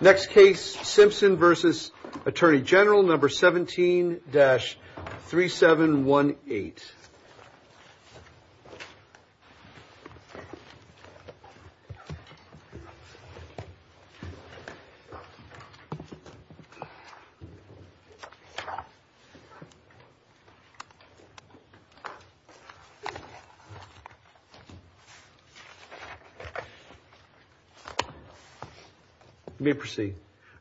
Next case, Simpson v. Attorney General No. 17-3718 Let me proceed.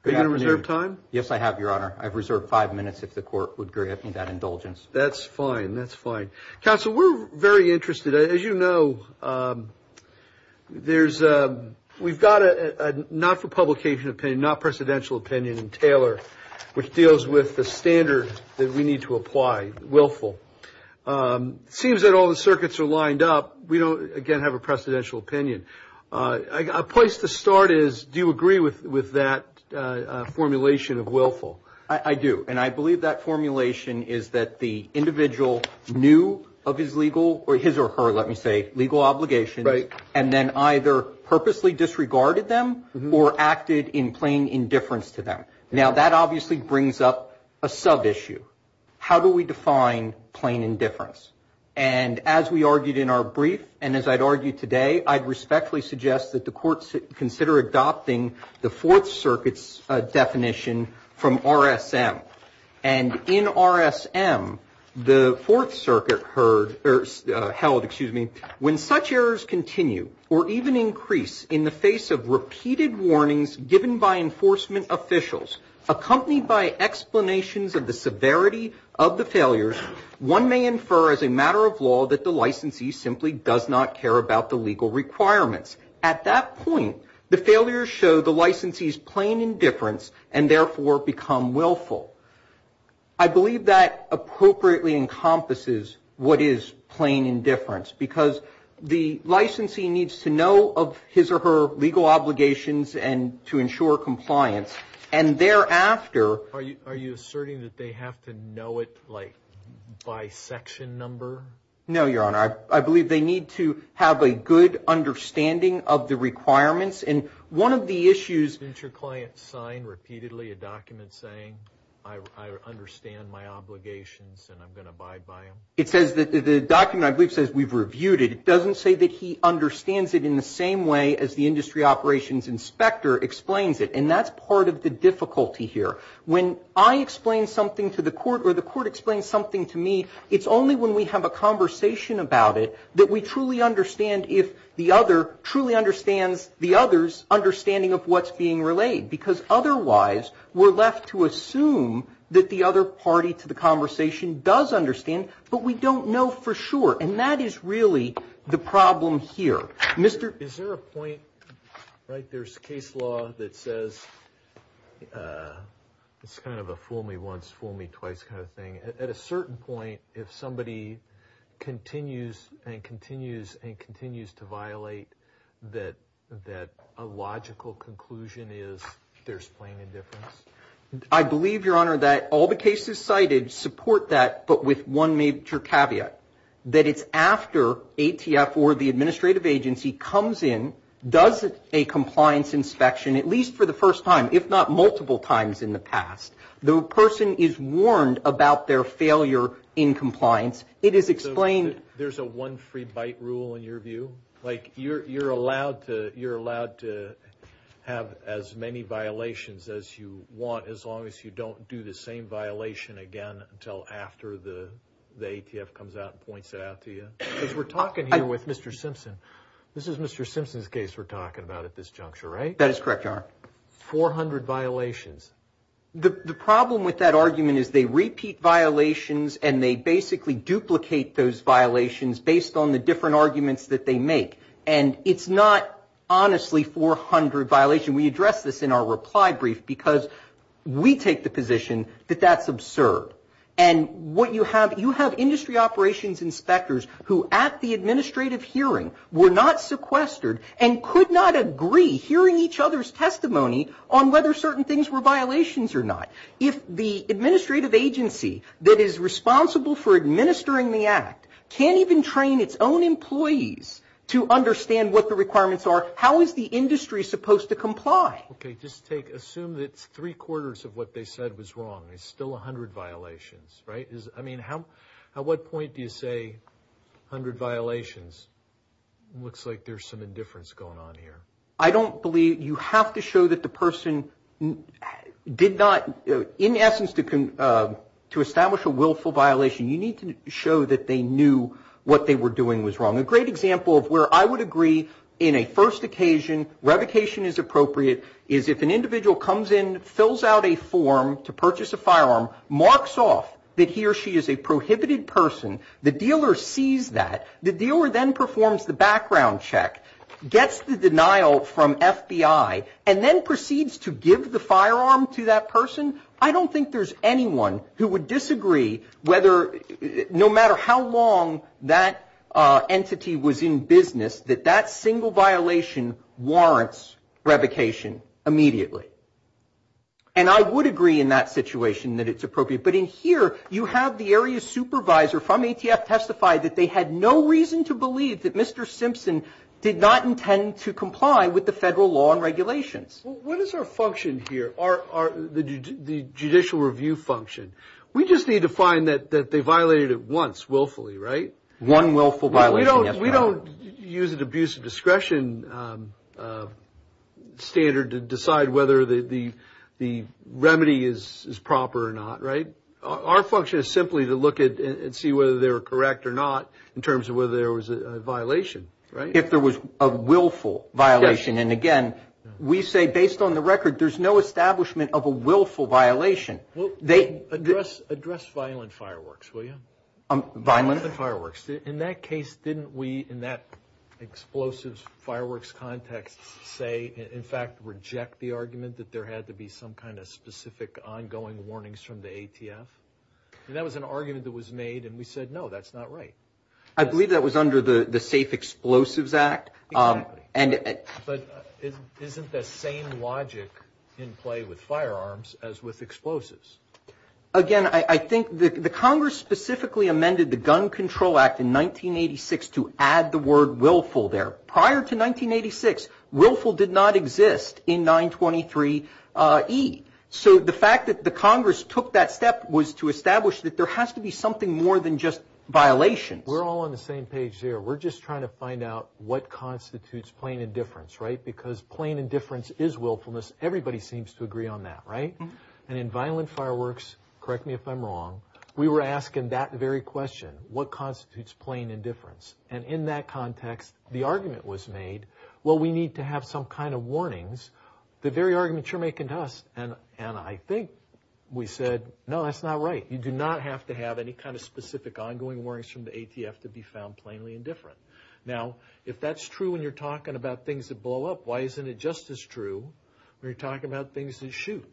Are you going to reserve time? Yes, I have, Your Honor. I've reserved five minutes if the court would grant me that indulgence. That's fine. That's fine. Counsel, we're very interested. As you know, we've got a not-for-publication opinion, not-presidential opinion in Taylor, which deals with the standard that we need to apply, willful. It seems that all the circuits are lined up. We don't, again, have a presidential opinion. A place to start is, do you agree with that formulation of willful? I do, and I believe that formulation is that the individual knew of his legal or his or her, let me say, legal obligation and then either purposely disregarded them or acted in plain indifference to them. Now, that obviously brings up a sub-issue. How do we define plain indifference? And as we argued in our brief and as I'd argue today, I'd respectfully suggest that the courts consider adopting the Fourth Circuit's definition from RSM. And in RSM, the Fourth Circuit held, when such errors continue or even increase in the face of repeated warnings given by that the licensee simply does not care about the legal requirements. At that point, the failures show the licensee's plain indifference and therefore become willful. I believe that appropriately encompasses what is plain indifference, because the licensee needs to know of his or her legal obligations and to ensure compliance. And thereafter. Are you asserting that they have to know it, like, by section number? No, Your Honor. I believe they need to have a good understanding of the requirements. And one of the issues. Didn't your client sign repeatedly a document saying, I understand my obligations and I'm going to abide by them? It says that the document, I believe, says we've reviewed it. It doesn't say that he understands it in the same way as the industry operations inspector explains it. And that's part of the difficulty here. When I explain something to the court or the court explains something to me, it's only when we have a conversation about it that we truly understand if the other truly understands the other's understanding of what's being relayed, because otherwise we're left to assume that the other party to the conversation does understand. But we don't know for sure. And that is really the problem here. Is there a point? Right. There's case law that says it's kind of a fool me once, fool me twice kind of thing. At a certain point, if somebody continues and continues and continues to violate that a logical conclusion is there's plain indifference? I believe, Your Honor, that all the cases cited support that, but with one major caveat, that it's after ATF or the administrative agency comes in, does a compliance inspection, at least for the first time, if not multiple times in the past, the person is warned about their failure in compliance. It is explained. So there's a one free bite rule in your view? Like you're allowed to have as many violations as you want as long as you don't do the same violation again until after the ATF comes out and points it out to you? Because we're talking here with Mr. Simpson. This is Mr. Simpson's case we're talking about at this juncture, right? That is correct, Your Honor. 400 violations. The problem with that argument is they repeat violations and they basically duplicate those violations based on the different arguments that they make. And it's not honestly 400 violations. We address this in our reply brief because we take the position that that's absurd. And what you have, you have industry operations inspectors who at the administrative hearing were not sequestered and could not agree hearing each other's testimony on whether certain things were violations or not. If the administrative agency that is responsible for administering the act can't even train its own employees to understand what the Okay, just take, assume that three-quarters of what they said was wrong. There's still 100 violations, right? I mean, at what point do you say 100 violations? It looks like there's some indifference going on here. I don't believe you have to show that the person did not, in essence, to establish a willful violation, you need to show that they knew what they were doing was wrong. A great example of where I would agree in a first occasion, revocation is appropriate, is if an individual comes in, fills out a form to purchase a firearm, marks off that he or she is a prohibited person, the dealer sees that, the dealer then performs the background check, gets the denial from FBI, and then proceeds to give the firearm to that person, I don't think there's anyone who would disagree whether, no matter how long that entity was in business, that that single violation warrants revocation immediately. And I would agree in that situation that it's appropriate, but in here you have the area supervisor from ATF testify that they had no reason to believe that Mr. Simpson did not intend to comply with the federal law and regulations. What is our function here, the judicial review function? We just need to find that they violated it once willfully, right? One willful violation. We don't use an abuse of discretion standard to decide whether the remedy is proper or not, right? Our function is simply to look at and see whether they were correct or not in terms of whether there was a violation, right? If there was a willful violation, and again, we say based on the record, there's no establishment of a willful violation. Well, address violent fireworks, will you? Violent fireworks. In that case, didn't we in that explosives fireworks context say, in fact, reject the argument that there had to be some kind of specific ongoing warnings from the ATF? That was an argument that was made, and we said, no, that's not right. Exactly. But isn't the same logic in play with firearms as with explosives? Again, I think the Congress specifically amended the Gun Control Act in 1986 to add the word willful there. Prior to 1986, willful did not exist in 923E. So the fact that the Congress took that step was to establish that there has to be something more than just violations. We're all on the same page here. We're just trying to find out what constitutes plain indifference, right? Because plain indifference is willfulness. Everybody seems to agree on that, right? And in violent fireworks, correct me if I'm wrong, we were asking that very question, what constitutes plain indifference? And in that context, the argument was made, well, we need to have some kind of warnings. The very argument you're making to us, and I think we said, no, that's not right. You do not have to have any kind of specific ongoing warnings from the ATF to be found plainly indifferent. Now, if that's true when you're talking about things that blow up, why isn't it just as true when you're talking about things that shoot?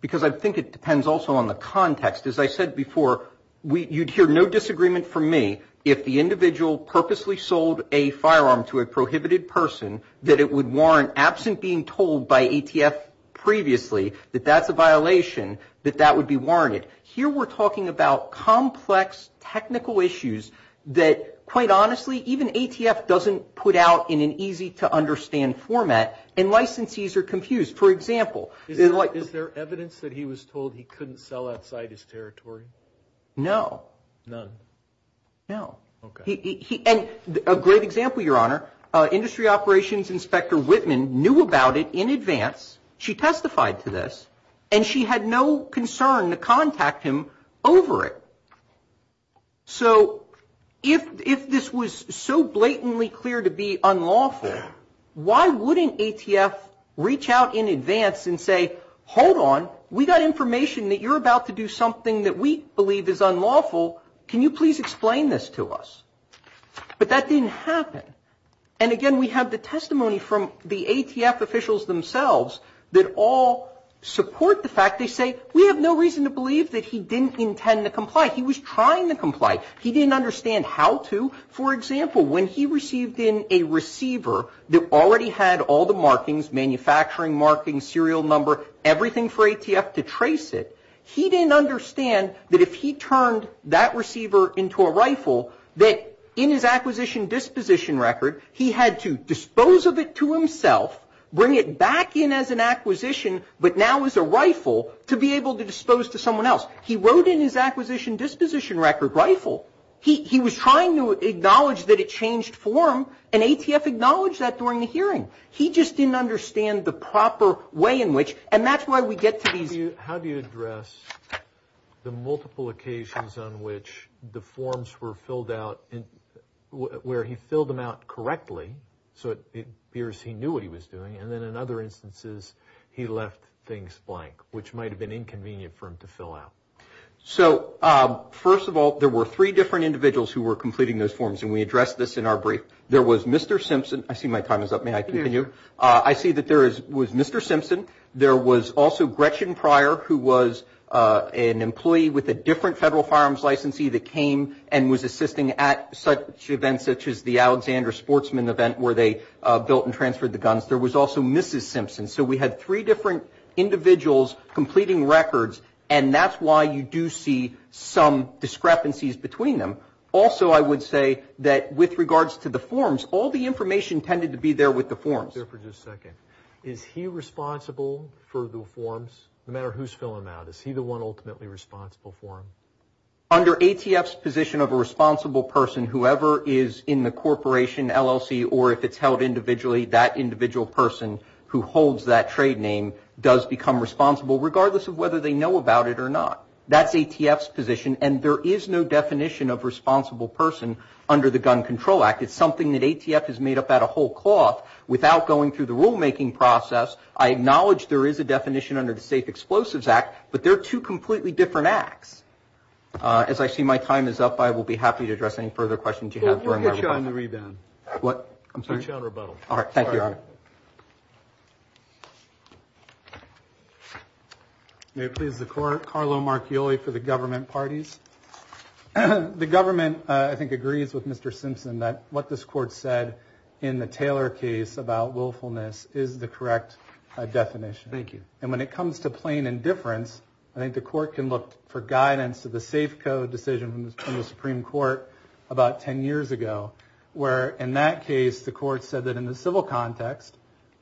Because I think it depends also on the context. As I said before, you'd hear no disagreement from me if the individual purposely sold a firearm to a prohibited person that it would warrant, absent being told by ATF previously that that's a violation, that that would be warranted. Here we're talking about complex technical issues that, quite honestly, even ATF doesn't put out in an easy-to-understand format, and licensees are confused. For example, is there evidence that he was told he couldn't sell outside his territory? No. None. No. Okay. And a great example, Your Honor, Industry Operations Inspector Whitman knew about it in advance. She testified to this, and she had no concern to contact him over it. So if this was so blatantly clear to be unlawful, why wouldn't ATF reach out in advance and say, hold on, we got information that you're about to do something that we believe is unlawful. Can you please explain this to us? But that didn't happen. And, again, we have the testimony from the ATF officials themselves that all support the fact. They say, we have no reason to believe that he didn't intend to comply. He was trying to comply. He didn't understand how to. For example, when he received in a receiver that already had all the markings, manufacturing markings, serial number, everything for ATF to trace it, he didn't understand that if he turned that receiver into a rifle, that in his acquisition disposition record, he had to dispose of it to himself, bring it back in as an acquisition, but now as a rifle to be able to dispose to someone else. He wrote in his acquisition disposition record, rifle. He was trying to acknowledge that it changed form, and ATF acknowledged that during the hearing. He just didn't understand the proper way in which, and that's why we get to these. How do you address the multiple occasions on which the forms were filled out, where he filled them out correctly, so it appears he knew what he was doing, and then in other instances, he left things blank, which might have been inconvenient for him to fill out? So, first of all, there were three different individuals who were completing those forms, and we addressed this in our brief. There was Mr. Simpson. I see my time is up. May I continue? I see that there was Mr. Simpson. There was also Gretchen Pryor, who was an employee with a different federal firearms licensee that came and was assisting at such events such as the Alexander Sportsman event, where they built and transferred the guns. There was also Mrs. Simpson. So we had three different individuals completing records, and that's why you do see some discrepancies between them. Also, I would say that with regards to the forms, all the information tended to be there with the forms. Is he responsible for the forms, no matter who's filling them out? Is he the one ultimately responsible for them? Under ATF's position of a responsible person, whoever is in the corporation, LLC, or if it's held individually, that individual person who holds that trade name does become responsible, regardless of whether they know about it or not. That's ATF's position, and there is no definition of responsible person under the Gun Control Act. It's something that ATF has made up out of whole cloth without going through the rulemaking process. I acknowledge there is a definition under the Safe Explosives Act, but they're two completely different acts. As I see my time is up, I will be happy to address any further questions you have during my rebuttal. We'll get you on the rebound. What? I'm sorry? We'll get you on rebuttal. All right. Thank you. May it please the Court, Carlo Marchioli for the government parties. The government, I think, agrees with Mr. Simpson that what this Court said in the Taylor case about willfulness is the correct definition. Thank you. And when it comes to plain indifference, I think the Court can look for guidance to the Safe Code decision from the Supreme Court about 10 years ago, where in that case, the Court said that in the civil context,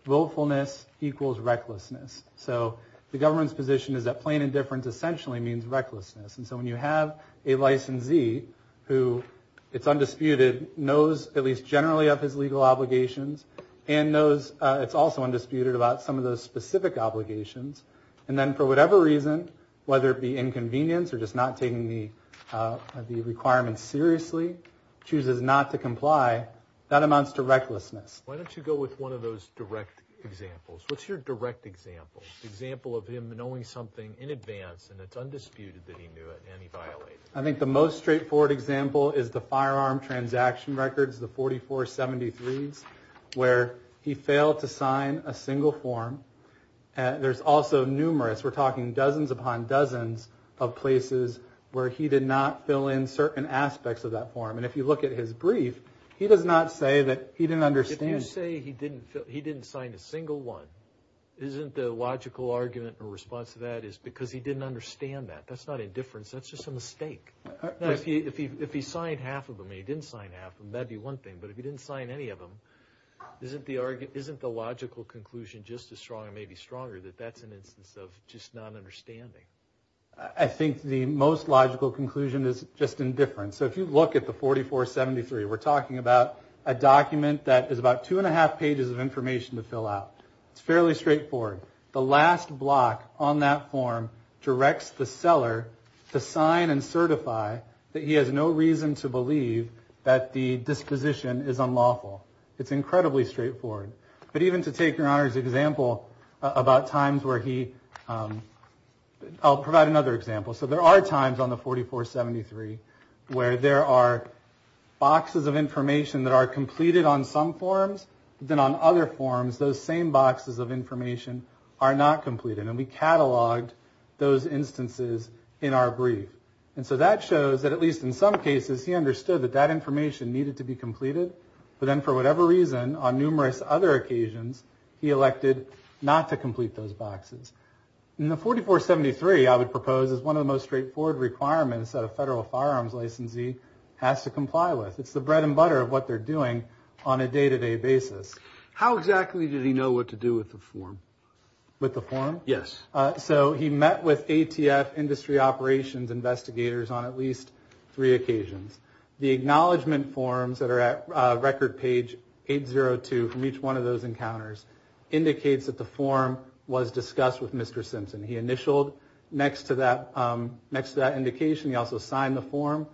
willfulness equals recklessness. So the government's position is that plain indifference essentially means recklessness. And so when you have a licensee who, it's undisputed, knows at least generally of his legal obligations and knows it's also undisputed about some of those specific obligations, and then for whatever reason, whether it be inconvenience or just not taking the requirement seriously, chooses not to comply, that amounts to recklessness. Why don't you go with one of those direct examples? What's your direct example? An example of him knowing something in advance, and it's undisputed that he knew it, and he violated it. I think the most straightforward example is the firearm transaction records, the 4473s, where he failed to sign a single form. There's also numerous, we're talking dozens upon dozens of places where he did not fill in certain aspects of that form. And if you look at his brief, he does not say that he didn't understand. If you say he didn't sign a single one, isn't the logical argument in response to that is because he didn't understand that. That's not indifference, that's just a mistake. If he signed half of them and he didn't sign half of them, that'd be one thing. But if he didn't sign any of them, isn't the logical conclusion just as strong, maybe stronger, that that's an instance of just not understanding? I think the most logical conclusion is just indifference. So if you look at the 4473, we're talking about a document that is about two and a half pages of information to fill out. It's fairly straightforward. The last block on that form directs the seller to sign and certify that he has no reason to believe that the disposition is unlawful. It's incredibly straightforward. But even to take Your Honor's example about times where he, I'll provide another example. So there are times on the 4473 where there are boxes of information that are completed on some forms, but then on other forms, those same boxes of information are not completed. And we cataloged those instances in our brief. And so that shows that at least in some cases, he understood that that information needed to be completed. But then for whatever reason, on numerous other occasions, he elected not to complete those boxes. And the 4473, I would propose, is one of the most straightforward requirements that a federal firearms licensee has to comply with. It's the bread and butter of what they're doing on a day-to-day basis. How exactly did he know what to do with the form? With the form? Yes. So he met with ATF industry operations investigators on at least three occasions. The acknowledgment forms that are at record page 802 from each one of those encounters indicates that the form was discussed with Mr. Simpson. He initialed next to that indication. He also signed the form.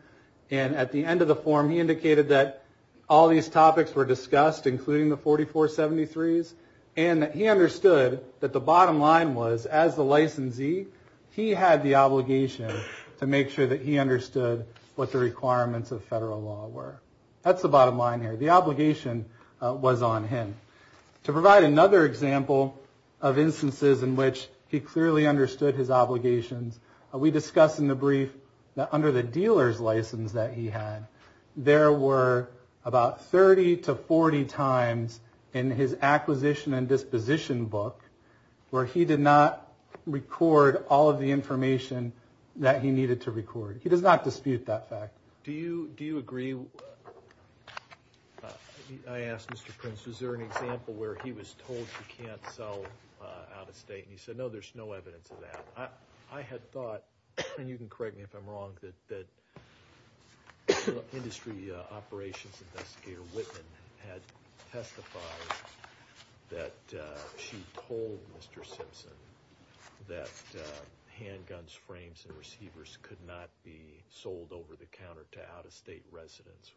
And at the end of the form, he indicated that all these topics were discussed, including the 4473s, and that he understood that the bottom line was, as the licensee, he had the obligation to make sure that he understood what the requirements of federal law were. That's the bottom line here. The obligation was on him. To provide another example of instances in which he clearly understood his obligations, we discuss in the brief that under the dealer's license that he had, there were about 30 to 40 times in his acquisition and disposition book where he did not record all of the information that he needed to record. He does not dispute that fact. Do you agree? I asked Mr. Prince, was there an example where he was told he can't sell out-of-state, and he said, no, there's no evidence of that. I had thought, and you can correct me if I'm wrong, that Industry Operations Investigator Whitman had testified that she told Mr. Simpson that handguns, frames, and receivers could not be sold over-the-counter to out-of-state residents.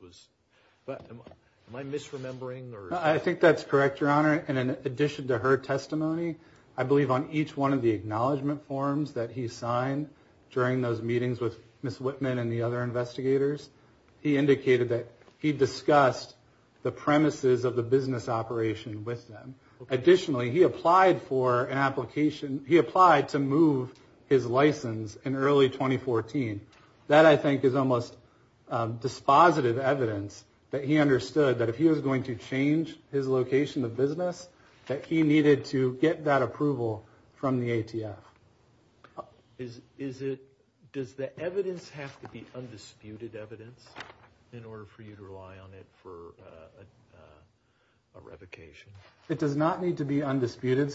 Am I misremembering? I think that's correct, Your Honor. In addition to her testimony, I believe on each one of the acknowledgment forms that he signed during those meetings with Ms. Whitman and the other investigators, he indicated that he discussed the premises of the business operation with them. Additionally, he applied to move his license in early 2014. That, I think, is almost dispositive evidence that he understood that if he was going to change his location of business, that he needed to get that approval from the ATF. Does the evidence have to be undisputed evidence in order for you to rely on it for a revocation? It does not need to be undisputed.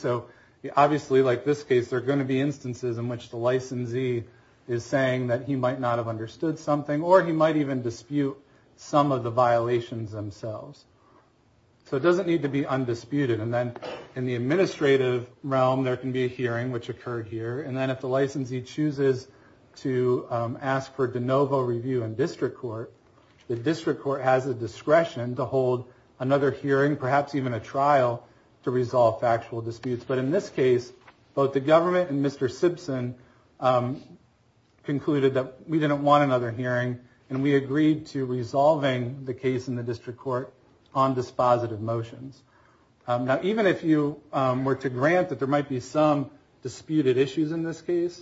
Obviously, like this case, there are going to be instances in which the licensee is saying that he might not have understood something or he might even dispute some of the violations themselves. It doesn't need to be undisputed. In the administrative realm, there can be a hearing, which occurred here. If the licensee chooses to ask for de novo review in district court, the district court has the discretion to hold another hearing, perhaps even a trial, to resolve factual disputes. But in this case, both the government and Mr. Simpson concluded that we didn't want another hearing, and we agreed to resolving the case in the district court on dispositive motions. Now, even if you were to grant that there might be some disputed issues in this case,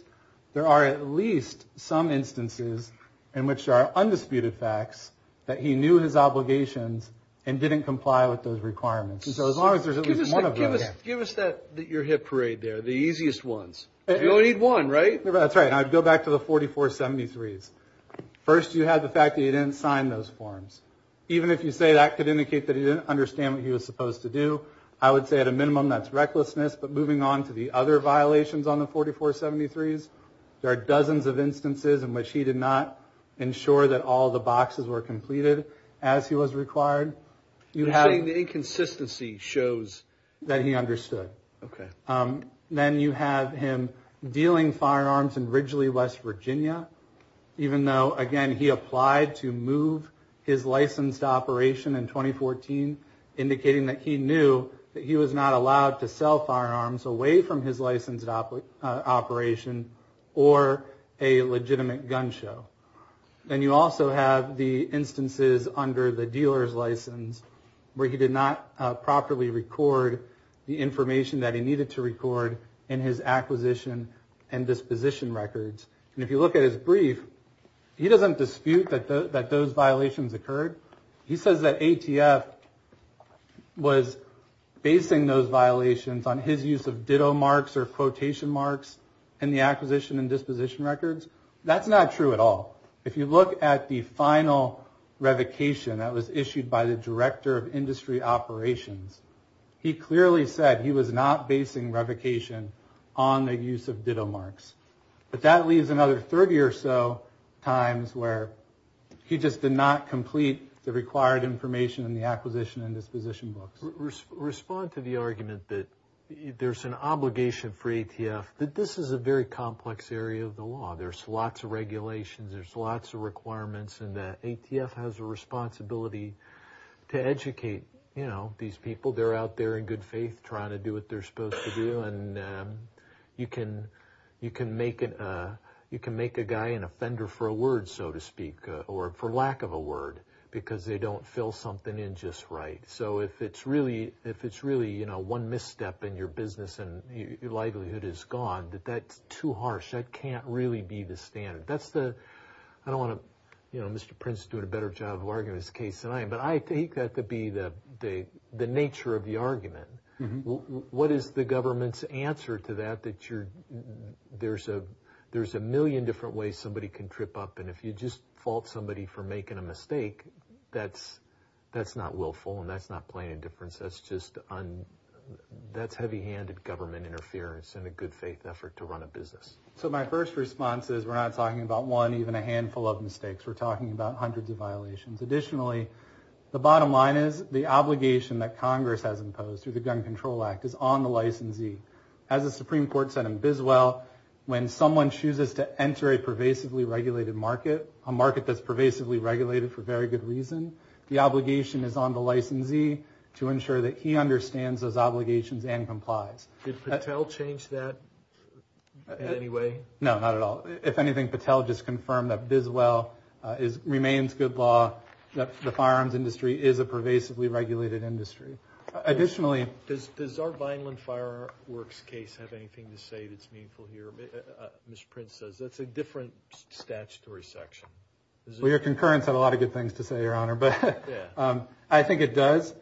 there are at least some instances in which there are undisputed facts that he knew his obligations and didn't comply with those requirements. So as long as there's at least one of those. Give us your hip parade there, the easiest ones. You only need one, right? That's right. I'd go back to the 4473s. First, you have the fact that he didn't sign those forms. Even if you say that could indicate that he didn't understand what he was supposed to do, I would say at a minimum that's recklessness. But moving on to the other violations on the 4473s, there are dozens of instances in which he did not ensure that all the boxes were completed as he was required. You're saying the inconsistency shows that he understood. Okay. Then you have him dealing firearms in Ridgely, West Virginia, even though, again, he applied to move his licensed operation in 2014, indicating that he knew that he was not allowed to sell firearms away from his licensed operation or a legitimate gun show. Then you also have the instances under the dealer's license where he did not properly record the information that he needed to record in his acquisition and disposition records. And if you look at his brief, he doesn't dispute that those violations occurred. He says that ATF was basing those violations on his use of ditto marks or quotation marks in the acquisition and disposition records. That's not true at all. If you look at the final revocation that was issued by the director of industry operations, he clearly said he was not basing revocation on the use of ditto marks. But that leaves another 30 or so times where he just did not complete the required information in the acquisition and disposition books. Respond to the argument that there's an obligation for ATF that this is a very complex area of the law. There's lots of regulations. There's lots of requirements in that. ATF has a responsibility to educate these people. They're out there in good faith trying to do what they're supposed to do. And you can make a guy an offender for a word, so to speak, or for lack of a word because they don't fill something in just right. So if it's really one misstep in your business and your livelihood is gone, that's too harsh. That can't really be the standard. I don't want to, you know, Mr. Prince is doing a better job of arguing this case than I am, but I take that to be the nature of the argument. What is the government's answer to that, that there's a million different ways somebody can trip up, and if you just fault somebody for making a mistake, that's not willful and that's not playing a difference. That's just heavy-handed government interference in a good faith effort to run a business. So my first response is we're not talking about one, even a handful of mistakes. We're talking about hundreds of violations. Additionally, the bottom line is the obligation that Congress has imposed through the Gun Control Act is on the licensee. As the Supreme Court said in Biswell, when someone chooses to enter a pervasively regulated market, a market that's pervasively regulated for very good reason, the obligation is on the licensee to ensure that he understands those obligations and complies. Did Patel change that in any way? No, not at all. If anything, Patel just confirmed that Biswell remains good law, that the firearms industry is a pervasively regulated industry. Additionally... Does our Vineland Fireworks case have anything to say that's meaningful here? Mr. Prince says that's a different statutory section. Your concurrence had a lot of good things to say, Your Honor. I think it does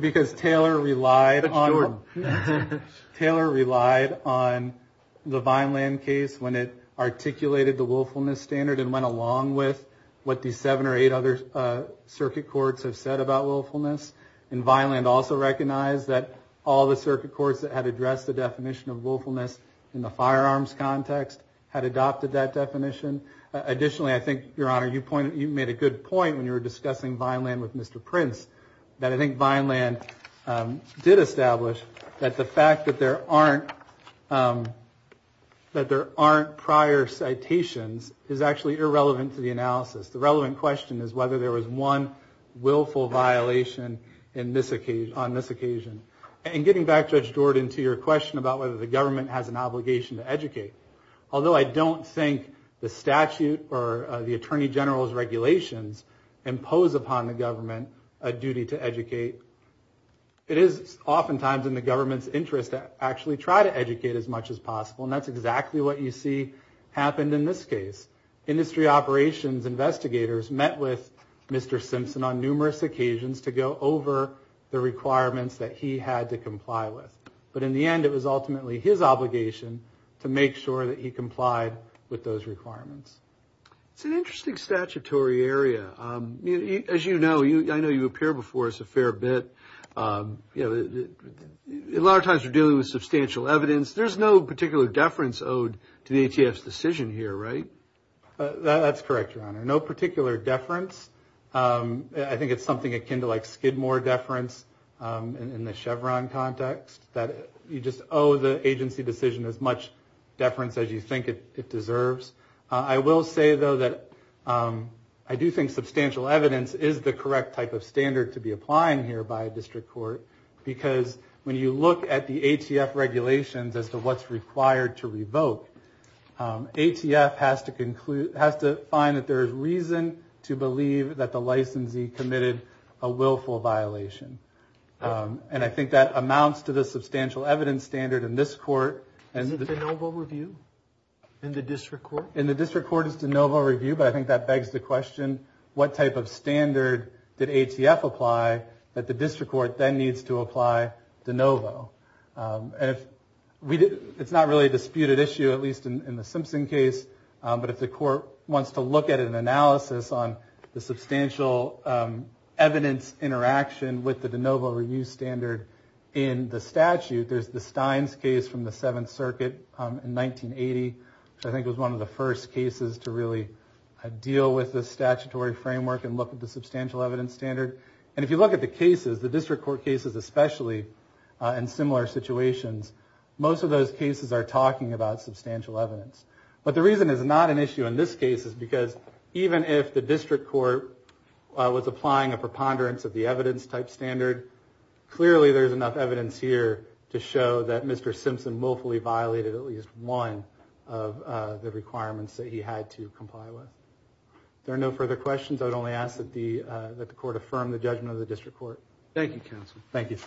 because Taylor relied on the Vineland case when it articulated the willfulness standard and went along with what the seven or eight other circuit courts have said about willfulness. Vineland also recognized that all the circuit courts that had addressed the definition of willfulness in the firearms context had adopted that definition. Additionally, I think, Your Honor, you made a good point when you were discussing Vineland with Mr. Prince, that I think Vineland did establish that the fact that there aren't prior citations is actually irrelevant to the analysis. The relevant question is whether there was one willful violation on this occasion. And getting back, Judge Jordan, to your question about whether the government has an obligation to educate. Although I don't think the statute or the Attorney General's regulations impose upon the government a duty to educate, it is oftentimes in the government's interest to actually try to educate as much as possible. And that's exactly what you see happened in this case. Industry operations investigators met with Mr. Simpson on numerous occasions to go over the requirements that he had to comply with. But in the end, it was ultimately his obligation to make sure that he complied with those requirements. It's an interesting statutory area. As you know, I know you appear before us a fair bit. A lot of times you're dealing with substantial evidence. There's no particular deference owed to the ATF's decision here, right? That's correct, Your Honor. No particular deference. I think it's something akin to like Skidmore deference in the Chevron context, that you just owe the agency decision as much deference as you think it deserves. I will say, though, that I do think substantial evidence is the correct type of standard to be applying here by a district court because when you look at the ATF regulations as to what's required to revoke, ATF has to find that there is reason to believe that the licensee committed a willful violation. I think that amounts to the substantial evidence standard in this court. Is it de novo review in the district court? In the district court, it's de novo review, but I think that begs the question, what type of standard did ATF apply that the district court then needs to apply de novo? It's not really a disputed issue, at least in the Simpson case, but if the court wants to look at an analysis on the substantial evidence interaction with the de novo review standard in the statute, there's the Steins case from the Seventh Circuit in 1980, which I think was one of the first cases to really deal with the statutory framework and look at the substantial evidence standard. And if you look at the cases, the district court cases especially, in similar situations, most of those cases are talking about substantial evidence. But the reason it's not an issue in this case is because even if the district court was applying a preponderance of the evidence type standard, clearly there's enough evidence here to show that Mr. Simpson willfully violated at least one of the requirements that he had to comply with. If there are no further questions, I would only ask that the court affirm the judgment of the district court. Thank you, counsel. Thank you.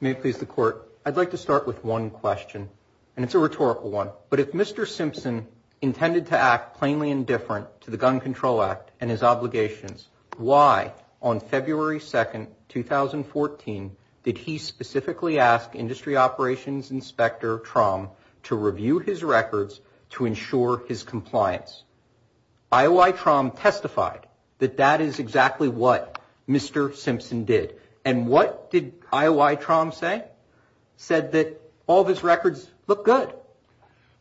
May it please the court. I'd like to start with one question, and it's a rhetorical one. But if Mr. Simpson intended to act plainly indifferent to the Gun Control Act and his obligations, why on February 2, 2014, did he specifically ask Industry Operations Inspector Tromm to review his records to ensure his compliance? IOI Tromm testified that that is exactly what Mr. Simpson did. And what did IOI Tromm say? Said that all of his records look good.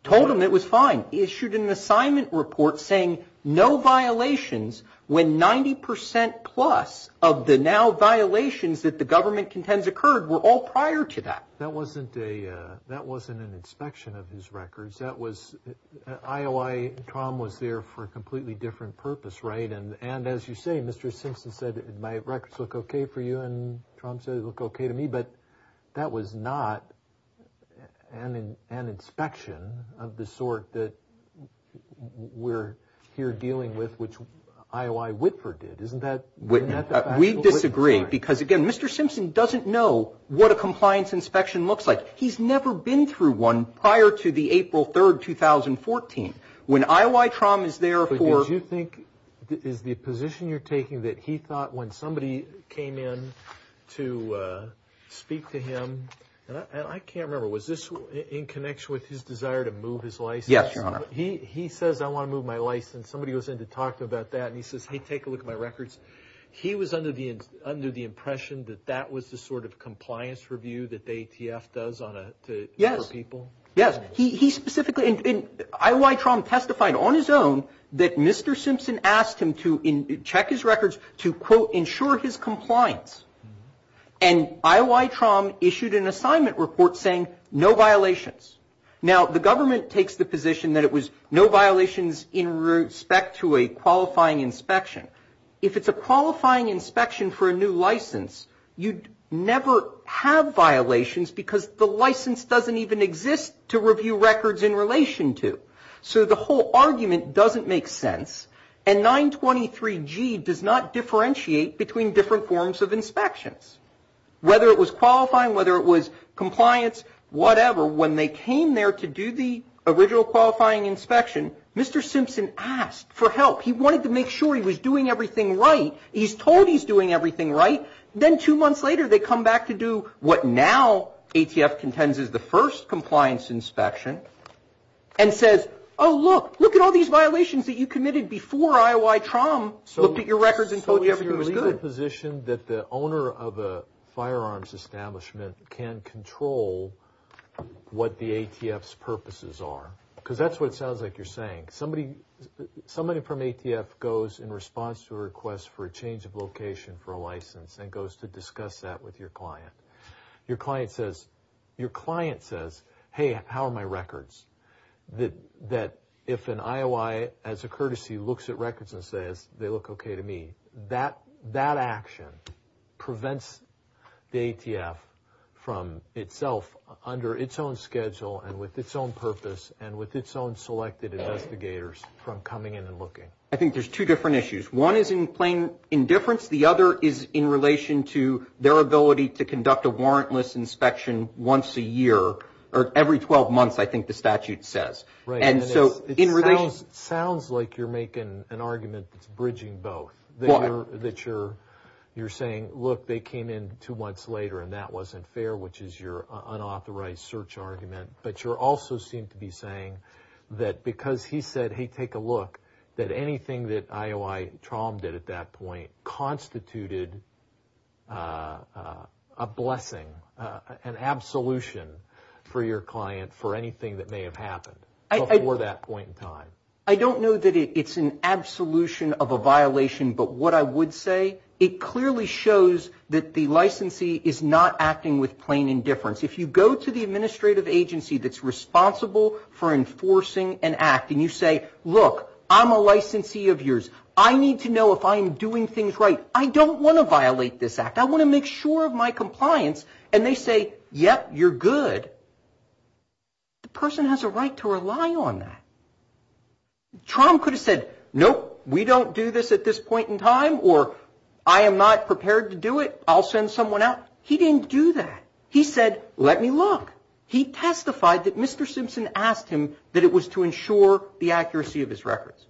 Told him it was fine. Issued an assignment report saying no violations when 90% plus of the now violations that the government contends occurred were all prior to that. That wasn't an inspection of his records. IOI Tromm was there for a completely different purpose, right? And as you say, Mr. Simpson said my records look okay for you, and Tromm said they look okay to me. But that was not an inspection of the sort that we're here dealing with, which IOI Whitford did. Isn't that the fact? We disagree, because, again, Mr. Simpson doesn't know what a compliance inspection looks like. He's never been through one prior to the April 3, 2014. When IOI Tromm is there for Did you think, is the position you're taking, that he thought when somebody came in to speak to him, and I can't remember, was this in connection with his desire to move his license? Yes, Your Honor. He says, I want to move my license. Somebody goes in to talk to him about that, and he says, hey, take a look at my records. He was under the impression that that was the sort of compliance review that the ATF does for people? Yes. Yes. And IOI Tromm testified on his own that Mr. Simpson asked him to check his records to, quote, ensure his compliance. And IOI Tromm issued an assignment report saying no violations. Now, the government takes the position that it was no violations in respect to a qualifying inspection. If it's a qualifying inspection for a new license, you'd never have violations because the license doesn't even exist to review records in relation to. So the whole argument doesn't make sense, and 923G does not differentiate between different forms of inspections. Whether it was qualifying, whether it was compliance, whatever, when they came there to do the original qualifying inspection, Mr. Simpson asked for help. He wanted to make sure he was doing everything right. He's told he's doing everything right. Then two months later they come back to do what now ATF contends is the first compliance inspection and says, oh, look, look at all these violations that you committed before IOI Tromm looked at your records and told you everything was good. So you're in a position that the owner of a firearms establishment can control what the ATF's purposes are? Because that's what it sounds like you're saying. Somebody from ATF goes in response to a request for a change of location for a license and goes to discuss that with your client. Your client says, hey, how are my records? That if an IOI as a courtesy looks at records and says they look okay to me, that action prevents the ATF from itself under its own schedule and with its own purpose and with its own selected investigators from coming in and looking. I think there's two different issues. One is in plain indifference. The other is in relation to their ability to conduct a warrantless inspection once a year or every 12 months, I think the statute says. It sounds like you're making an argument that's bridging both. You're saying, look, they came in two months later and that wasn't fair, which is your unauthorized search argument. But you also seem to be saying that because he said, hey, take a look, that anything that IOI trommed at that point constituted a blessing, an absolution for your client for anything that may have happened before that point in time. I don't know that it's an absolution of a violation, but what I would say, it clearly shows that the licensee is not acting with plain indifference. If you go to the administrative agency that's responsible for enforcing an act and you say, look, I'm a licensee of yours. I need to know if I'm doing things right. I don't want to violate this act. I want to make sure of my compliance. And they say, yep, you're good. The person has a right to rely on that. Tromm could have said, nope, we don't do this at this point in time, or I am not prepared to do it. I'll send someone out. He didn't do that. He said, let me look. He testified that Mr. Simpson asked him that it was to ensure the accuracy of his records.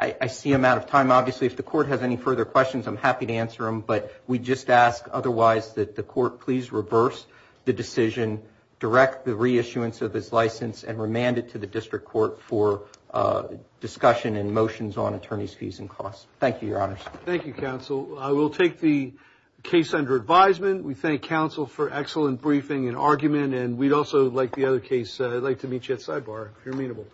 I see I'm out of time. Obviously, if the court has any further questions, I'm happy to answer them. But we just ask otherwise that the court please reverse the decision, direct the reissuance of his license, and remand it to the district court for discussion and motions on attorney's fees and costs. Thank you, Your Honors. Thank you, Counsel. I will take the case under advisement. We thank counsel for excellent briefing and argument. And we'd also like the other case, I'd like to meet you at sidebar if you're amenable.